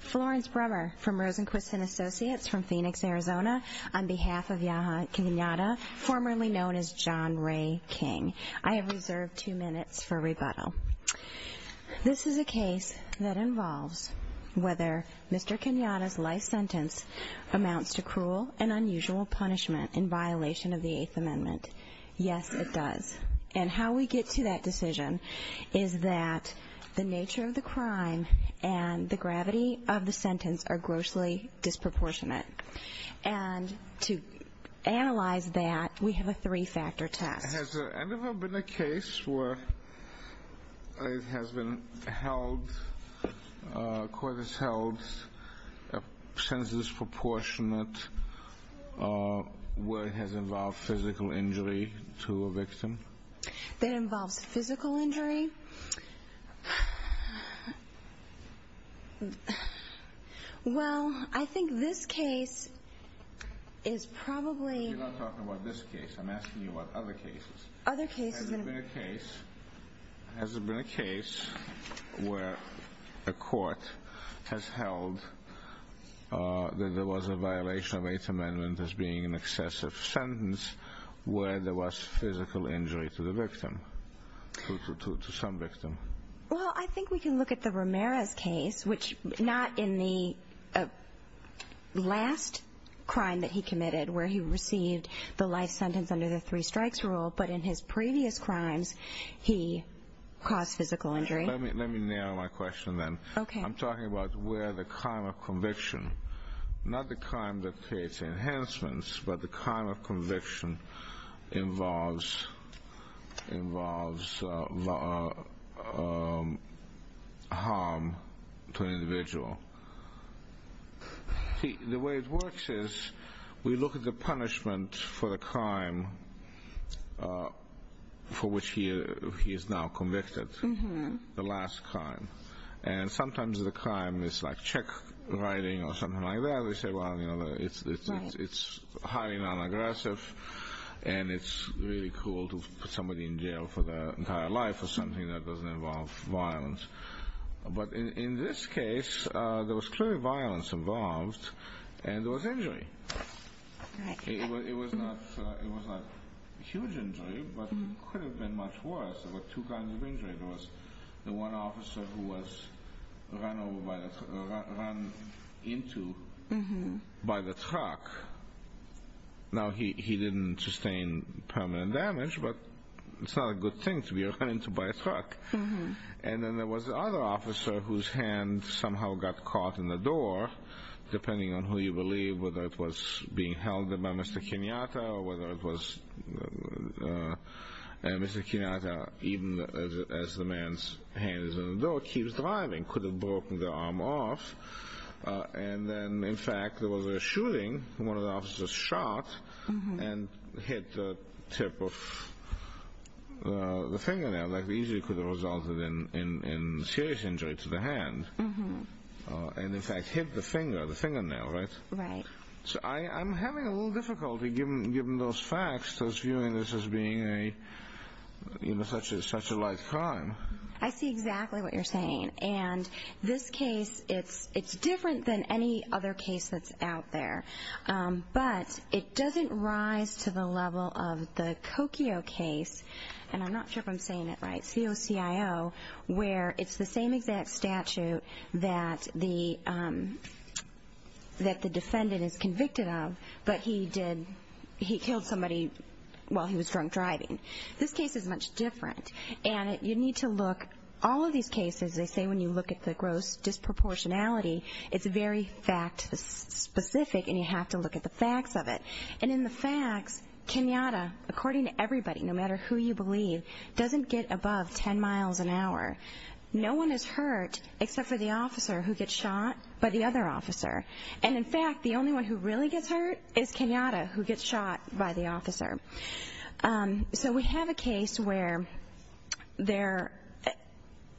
Florence Brummer from Rosenquist & Associates from Phoenix, Arizona, on behalf of Yaha Kenyatta, formerly known as John Ray King. I have reserved two minutes for rebuttal. This is a case that involves whether Mr. Kenyatta's life sentence amounts to cruel and unusual punishment in violation of the Eighth Amendment. Yes, it does. And how we get to that decision is that the nature of the crime and the gravity of the sentence are grossly disproportionate. And to analyze that, we have a three-factor test. Has there ever been a case where it has been held, a court has held a sentence disproportionate where it has involved physical injury to a victim? That involves physical injury? Well, I think this case is probably... I'm asking you about other cases. Other cases... Has there been a case where a court has held that there was a violation of the Eighth Amendment as being an excessive sentence where there was physical injury to the victim, to some victim? Well, I think we can look at the Ramirez case, which not in the last crime that he committed where he received the life sentence under the three-strikes rule, but in his previous crimes, he caused physical injury. Let me narrow my question then. Okay. I'm talking about where the crime of conviction, not the crime that creates enhancements, but the crime of conviction involves harm to an individual. The way it works is we look at the punishment for the crime for which he is now convicted, the last crime. And sometimes the crime is like check writing or something like that. We say, well, it's highly non-aggressive, and it's really cruel to put somebody in jail for their entire life for something that doesn't involve violence. But in this case, there was clearly violence involved, and there was injury. It was not a huge injury, but it could have been much worse. There were two kinds of injury. There was the one officer who was run into by the truck. Now, he didn't sustain permanent damage, but it's not a good thing to be run into by a truck. And then there was the other officer whose hand somehow got caught in the door, depending on who you believe, whether it was being held by Mr. Kenyatta or whether it was Mr. Kenyatta, even as the man's hand is in the door, keeps driving. Could have broken the arm off. And then, in fact, there was a shooting. One of the officers shot and hit the tip of the fingernail that easily could have resulted in serious injury to the hand and, in fact, hit the finger, the fingernail, right? Right. So I'm having a little difficulty, given those facts, just viewing this as being such a light crime. I see exactly what you're saying. And this case, it's different than any other case that's out there, but it doesn't rise to the level of the Kokio case, and I'm not sure if I'm saying it right, COCIO, where it's the same exact statute that the defendant is convicted of, but he killed somebody while he was drunk driving. This case is much different. And you need to look, all of these cases, they say when you look at the gross disproportionality, it's very fact-specific and you have to look at the facts of it. And in the facts, Kenyatta, according to everybody, no matter who you believe, doesn't get above 10 miles an hour. No one is hurt except for the officer who gets shot by the other officer. And, in fact, the only one who really gets hurt is Kenyatta, who gets shot by the officer. So we have a case where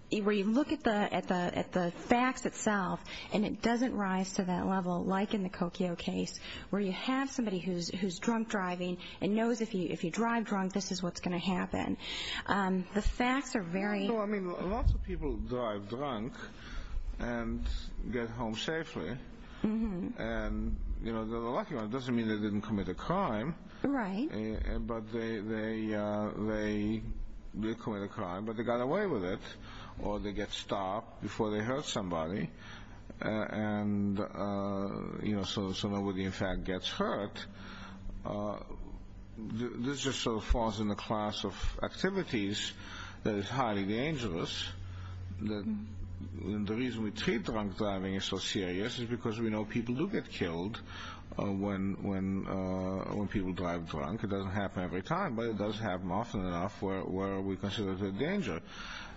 you look at the facts itself and it doesn't rise to that level, like in the Kokio case, where you have somebody who's drunk driving and knows if you drive drunk, this is what's going to happen. The facts are very... Well, I mean, lots of people drive drunk and get home safely. And, you know, the lucky one doesn't mean they didn't commit a crime. Right. But they did commit a crime, but they got away with it, or they get stopped before they hurt somebody. And, you know, so nobody, in fact, gets hurt. This just sort of falls in the class of activities that is highly dangerous. The reason we treat drunk driving as so serious is because we know people do get killed when people drive drunk. It doesn't happen every time, but it does happen often enough where we consider it a danger.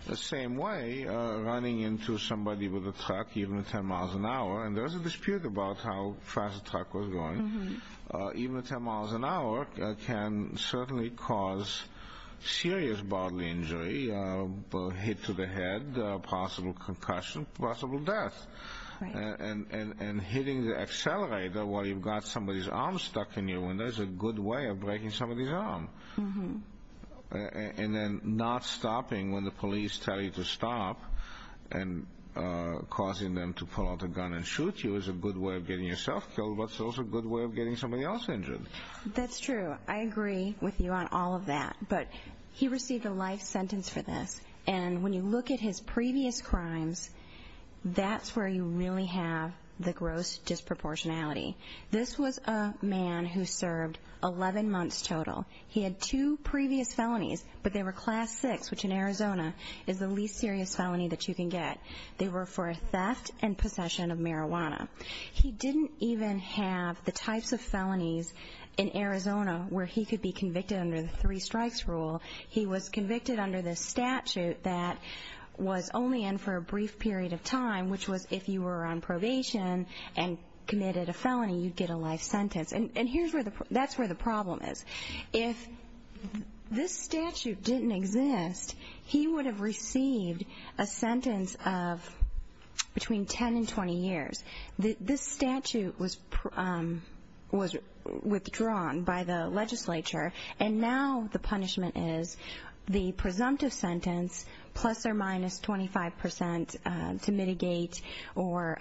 The same way, running into somebody with a truck, even at 10 miles an hour, and there's a dispute about how fast the truck was going. Even at 10 miles an hour can certainly cause serious bodily injury, a hit to the head, a possible concussion, possible death. And hitting the accelerator while you've got somebody's arm stuck in your window is a good way of breaking somebody's arm. And then not stopping when the police tell you to stop and causing them to pull out a gun and shoot you is a good way of getting yourself killed, but it's also a good way of getting somebody else injured. That's true. I agree with you on all of that, but he received a life sentence for this. And when you look at his previous crimes, that's where you really have the gross disproportionality. This was a man who served 11 months total. He had two previous felonies, but they were class six, which in Arizona is the least serious felony that you can get. They were for theft and possession of marijuana. He didn't even have the types of felonies in Arizona where he could be convicted under the three strikes rule. He was convicted under this statute that was only in for a brief period of time, which was if you were on probation and committed a felony, you'd get a life sentence. And that's where the problem is. If this statute didn't exist, he would have received a sentence of between 10 and 20 years. This statute was withdrawn by the legislature, and now the punishment is the presumptive sentence plus or minus 25 percent to mitigate or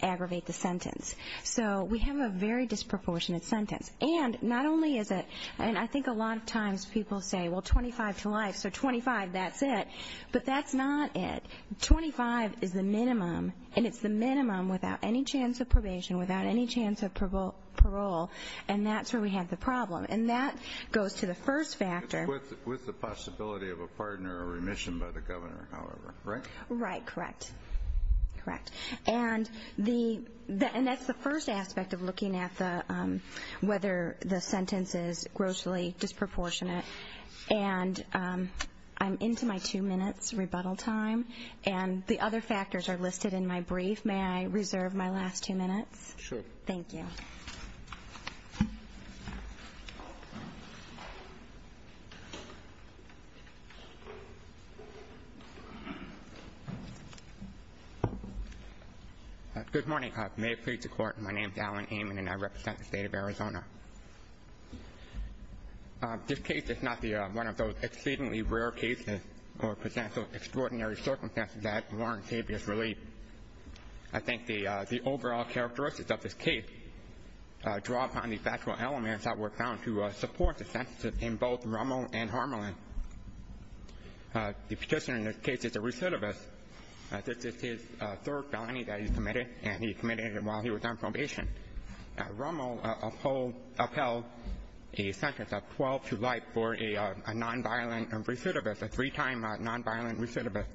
aggravate the sentence. So we have a very disproportionate sentence. And not only is it, and I think a lot of times people say, well, 25 to life, so 25, that's it. But that's not it. Twenty-five is the minimum, and it's the minimum without any chance of probation, without any chance of parole. And that's where we have the problem. And that goes to the first factor. With the possibility of a pardon or remission by the governor, however, right? Right, correct. Correct. And that's the first aspect of looking at whether the sentence is grossly disproportionate. And I'm into my two minutes rebuttal time, and the other factors are listed in my brief. May I reserve my last two minutes? Sure. Thank you. Good morning. May it please the Court. My name is Alan Amon, and I represent the State of Arizona. This case is not one of those exceedingly rare cases or potential extraordinary circumstances that warrant habeas relief. I think the overall characteristics of this case draw upon the factual elements that were found to support the sentences in both Rommel and Harmelin. The petitioner in this case is a recidivist. This is his third felony that he committed, and he committed it while he was on probation. Rommel upheld a sentence of 12 to life for a nonviolent recidivist, a three-time nonviolent recidivist.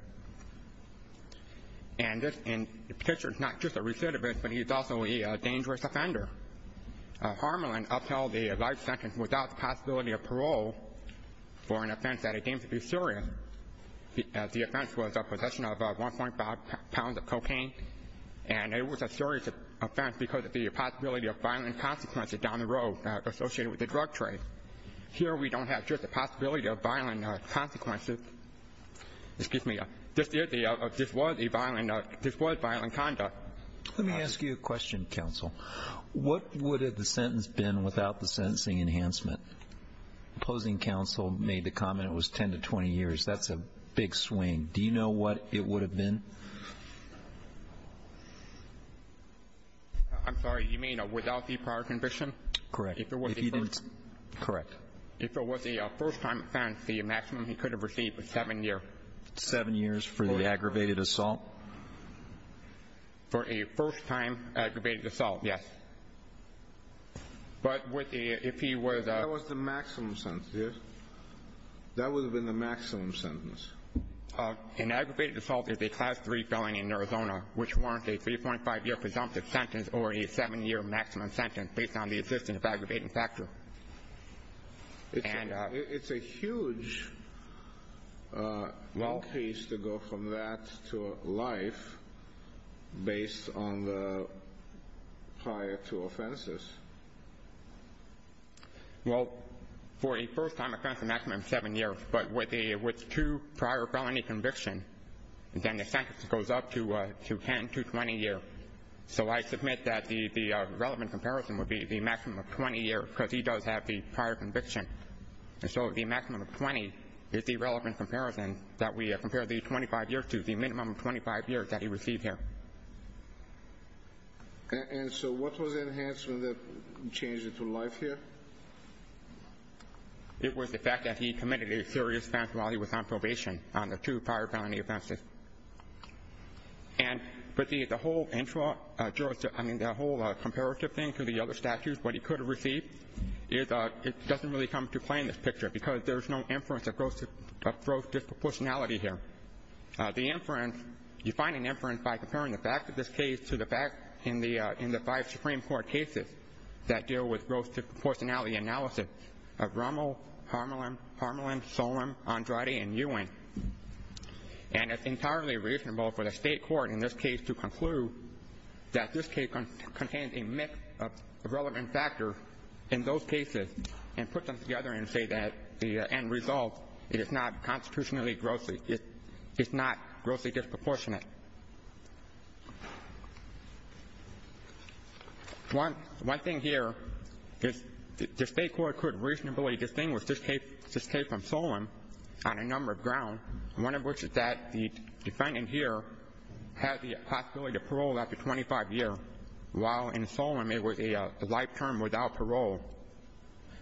And this petitioner is not just a recidivist, but he's also a dangerous offender. Harmelin upheld a life sentence without the possibility of parole for an offense that he deems to be serious. The offense was possession of 1.5 pounds of cocaine. And it was a serious offense because of the possibility of violent consequences down the road associated with the drug trade. Here we don't have just the possibility of violent consequences. Excuse me. This was a violent ‑‑ this was violent conduct. Let me ask you a question, counsel. What would the sentence have been without the sentencing enhancement? Opposing counsel made the comment it was 10 to 20 years. That's a big swing. Do you know what it would have been? I'm sorry. You mean without the prior conviction? Correct. If it was a first time offense, the maximum he could have received was seven years. Seven years for the aggravated assault? For a first time aggravated assault, yes. But if he was a ‑‑ That was the maximum sentence, yes? That would have been the maximum sentence. An aggravated assault is a class 3 felony in Arizona which warrants a 3.5 year presumptive sentence or a seven year maximum sentence based on the existence of aggravating factor. It's a huge increase to go from that to life based on the prior two offenses. Well, for a first time offense, a maximum of seven years. But with two prior felony convictions, then the sentence goes up to 10 to 20 years. So I submit that the relevant comparison would be the maximum of 20 years because he does have the prior conviction. And so the maximum of 20 is the relevant comparison that we compare the 25 years to, the minimum of 25 years that he received here. And so what was the enhancement that changed it to life here? It was the fact that he committed a serious offense while he was on probation on the two prior felony offenses. And the whole comparative thing to the other statutes, what he could have received, it doesn't really come into play in this picture because there's no inference of gross disproportionality here. The inference, you find an inference by comparing the fact of this case to the fact in the five Supreme Court cases that deal with gross disproportionality analysis of Rommel, Harmelin, Solem, Andrade, and Ewing. And it's entirely reasonable for the state court in this case to conclude that this case contains a mix of relevant factors in those cases and put them together and say that the end result, it is not constitutionally grossly, it's not grossly disproportionate. One thing here is the state court could reasonably distinguish this case from Solem on a number of grounds, one of which is that the defendant here had the possibility to parole after 25 years, while in Solem it was a life term without parole.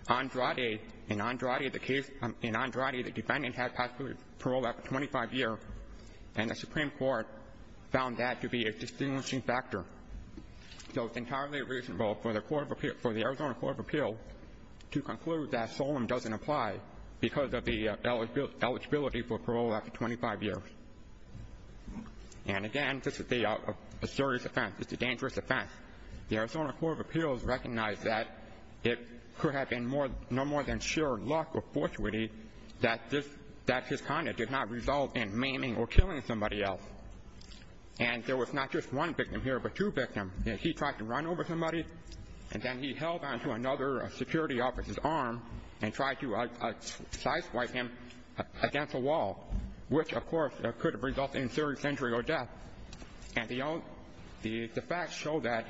In Andrade, the defendant had the possibility to parole after 25 years, and the Supreme Court found that to be a distinguishing factor. So it's entirely reasonable for the Arizona Court of Appeals to conclude that Solem doesn't apply because of the eligibility for parole after 25 years. And, again, this is a serious offense. It's a dangerous offense. The Arizona Court of Appeals recognized that it could have been no more than sheer luck or fortuity that his conduct did not result in maiming or killing somebody else. And there was not just one victim here, but two victims. He tried to run over somebody, and then he held on to another security officer's arm and tried to side swipe him against a wall, which, of course, could have resulted in serious injury or death. And the facts show that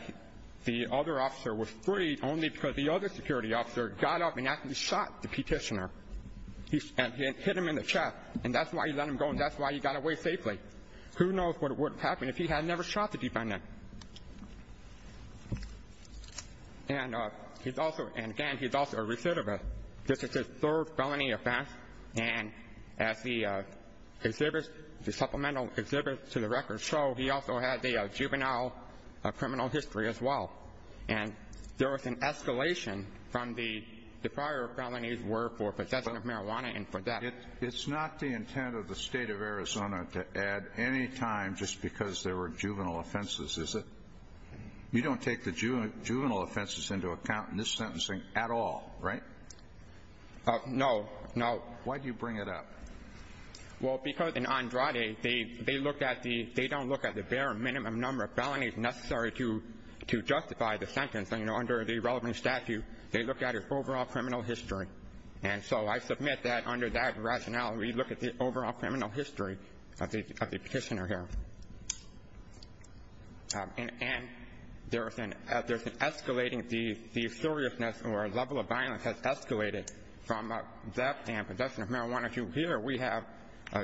the other officer was freed only because the other security officer got up and actually shot the petitioner and hit him in the chest, and that's why he let him go and that's why he got away safely. And he's also, and again, he's also a recidivist. This is his third felony offense, and as the exhibit, the supplemental exhibit to the record show, he also had a juvenile criminal history as well. And there was an escalation from the prior felonies were for possession of marijuana and for death. It's not the intent of the State of Arizona to add any time just because there were juvenile offenses is that you don't take the juvenile offenses into account in this sentencing at all, right? No, no. Why do you bring it up? Well, because in Andrade, they looked at the, they don't look at the bare minimum number of felonies necessary to justify the sentence. Under the relevant statute, they look at his overall criminal history. And so I submit that under that rationale, we look at the overall criminal history of the petitioner here. And there's an escalating, the seriousness or level of violence has escalated from death and possession of marijuana to here we have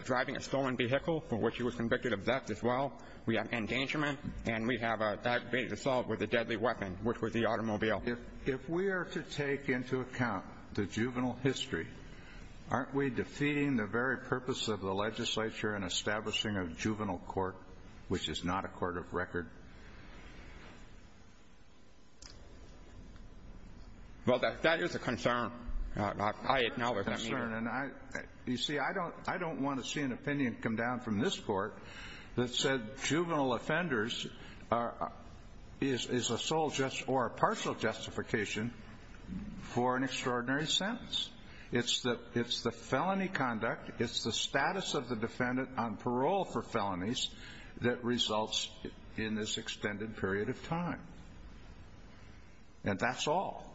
driving a stolen vehicle for which he was convicted of death as well. We have endangerment, and we have a aggravated assault with a deadly weapon, which was the automobile. If we are to take into account the juvenile history, aren't we defeating the very purpose of the legislature in establishing a juvenile court, which is not a court of record? Well, that is a concern. I acknowledge that. that said juvenile offenders is a sole or partial justification for an extraordinary sentence. It's the felony conduct. It's the status of the defendant on parole for felonies that results in this extended period of time. And that's all.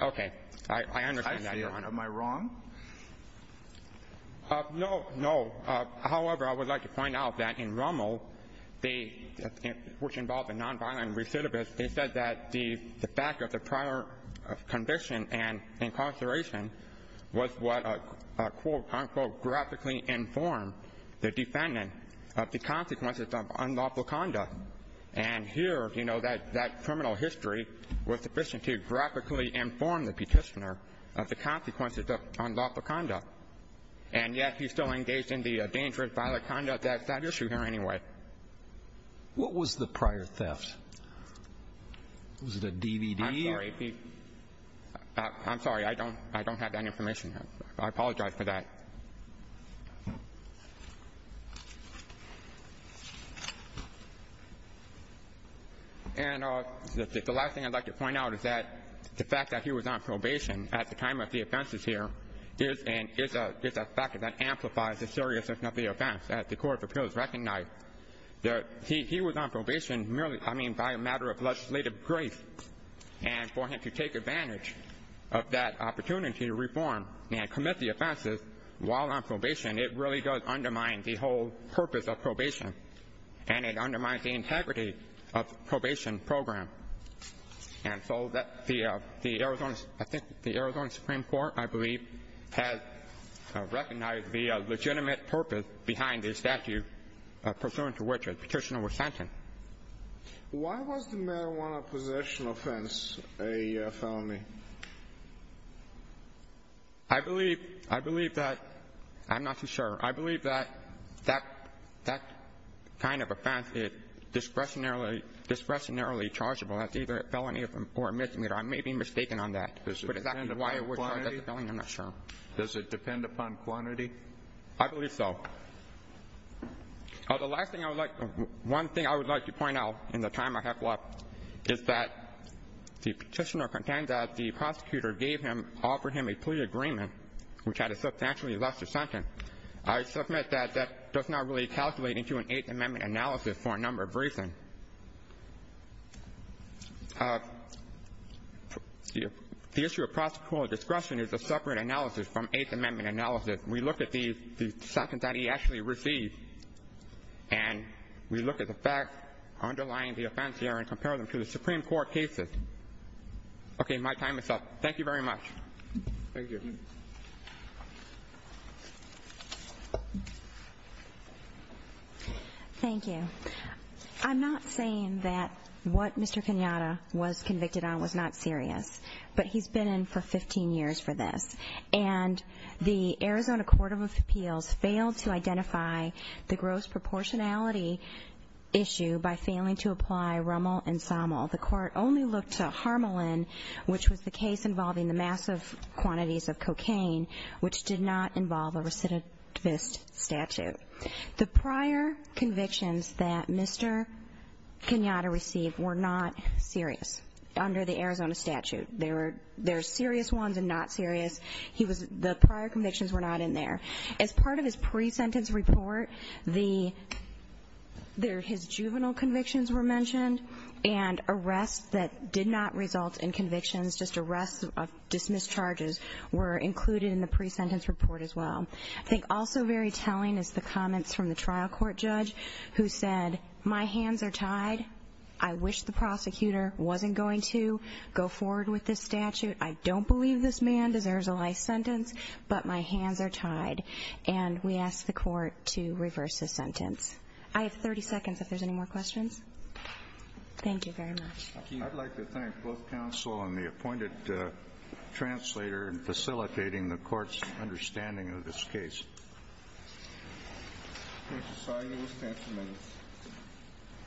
Okay. I understand that, Your Honor. Am I wrong? No, no. However, I would like to point out that in Rummel, which involved a nonviolent recidivist, they said that the fact of the prior conviction and incarceration was what, quote, unquote, graphically informed the defendant of the consequences of unlawful conduct. And here, you know, that criminal history was sufficient to graphically inform the petitioner of the consequences of unlawful conduct. And yet, he's still engaged in the dangerous violent conduct that's at issue here anyway. What was the prior theft? Was it a DVD? I'm sorry. I'm sorry. I don't have that information. I apologize for that. And the last thing I'd like to point out is that the fact that he was on probation at the time of the offenses here is a factor that amplifies the seriousness of the offense that the Court of Appeals recognized. He was on probation merely, I mean, by a matter of legislative grace. And for him to take advantage of that opportunity to reform and commit the offenses while on probation, it really does undermine the whole purpose of probation, and it undermines the integrity of the probation program. And so I think the Arizona Supreme Court, I believe, has recognized the legitimate purpose behind the statute pursuant to which the petitioner was sentenced. Why was the marijuana possession offense a felony? I believe that ‑‑ I'm not too sure. I believe that that kind of offense is discretionarily chargeable as either a felony or a misdemeanor. I may be mistaken on that. Does it depend upon quantity? I'm not sure. Does it depend upon quantity? I believe so. The last thing I would like ‑‑ one thing I would like to point out in the time I have left is that the petitioner contends that the prosecutor gave him, offered him a plea agreement, which had a substantially lesser sentence. I submit that that does not really calculate into an Eighth Amendment analysis for a number of reasons. The issue of prosecutorial discretion is a separate analysis from Eighth Amendment analysis. We look at the sentence that he actually received, and we look at the facts underlying the offense here and compare them to the Supreme Court cases. Okay. My time is up. Thank you very much. Thank you. Thank you. I'm not saying that what Mr. Kenyatta was convicted on was not serious, but he's been in for 15 years for this. And the Arizona Court of Appeals failed to identify the gross proportionality issue by failing to apply Rommel and Sommel. The Court only looked to Harmelin, which was the case involving the massive quantities of cocaine, which did not involve a recidivist statute. The prior convictions that Mr. Kenyatta received were not serious under the Arizona statute. They're serious ones and not serious. The prior convictions were not in there. As part of his pre-sentence report, his juvenile convictions were mentioned, and arrests that did not result in convictions, just arrests of dismissed charges, were included in the pre-sentence report as well. I think also very telling is the comments from the trial court judge who said, My hands are tied. I wish the prosecutor wasn't going to go forward with this statute. I don't believe this man deserves a life sentence, but my hands are tied. And we ask the court to reverse his sentence. I have 30 seconds if there's any more questions. Thank you very much. Thank you. I'd like to thank both counsel and the appointed translator in facilitating the court's understanding of this case. Thank you, sir. You may stand for a minute.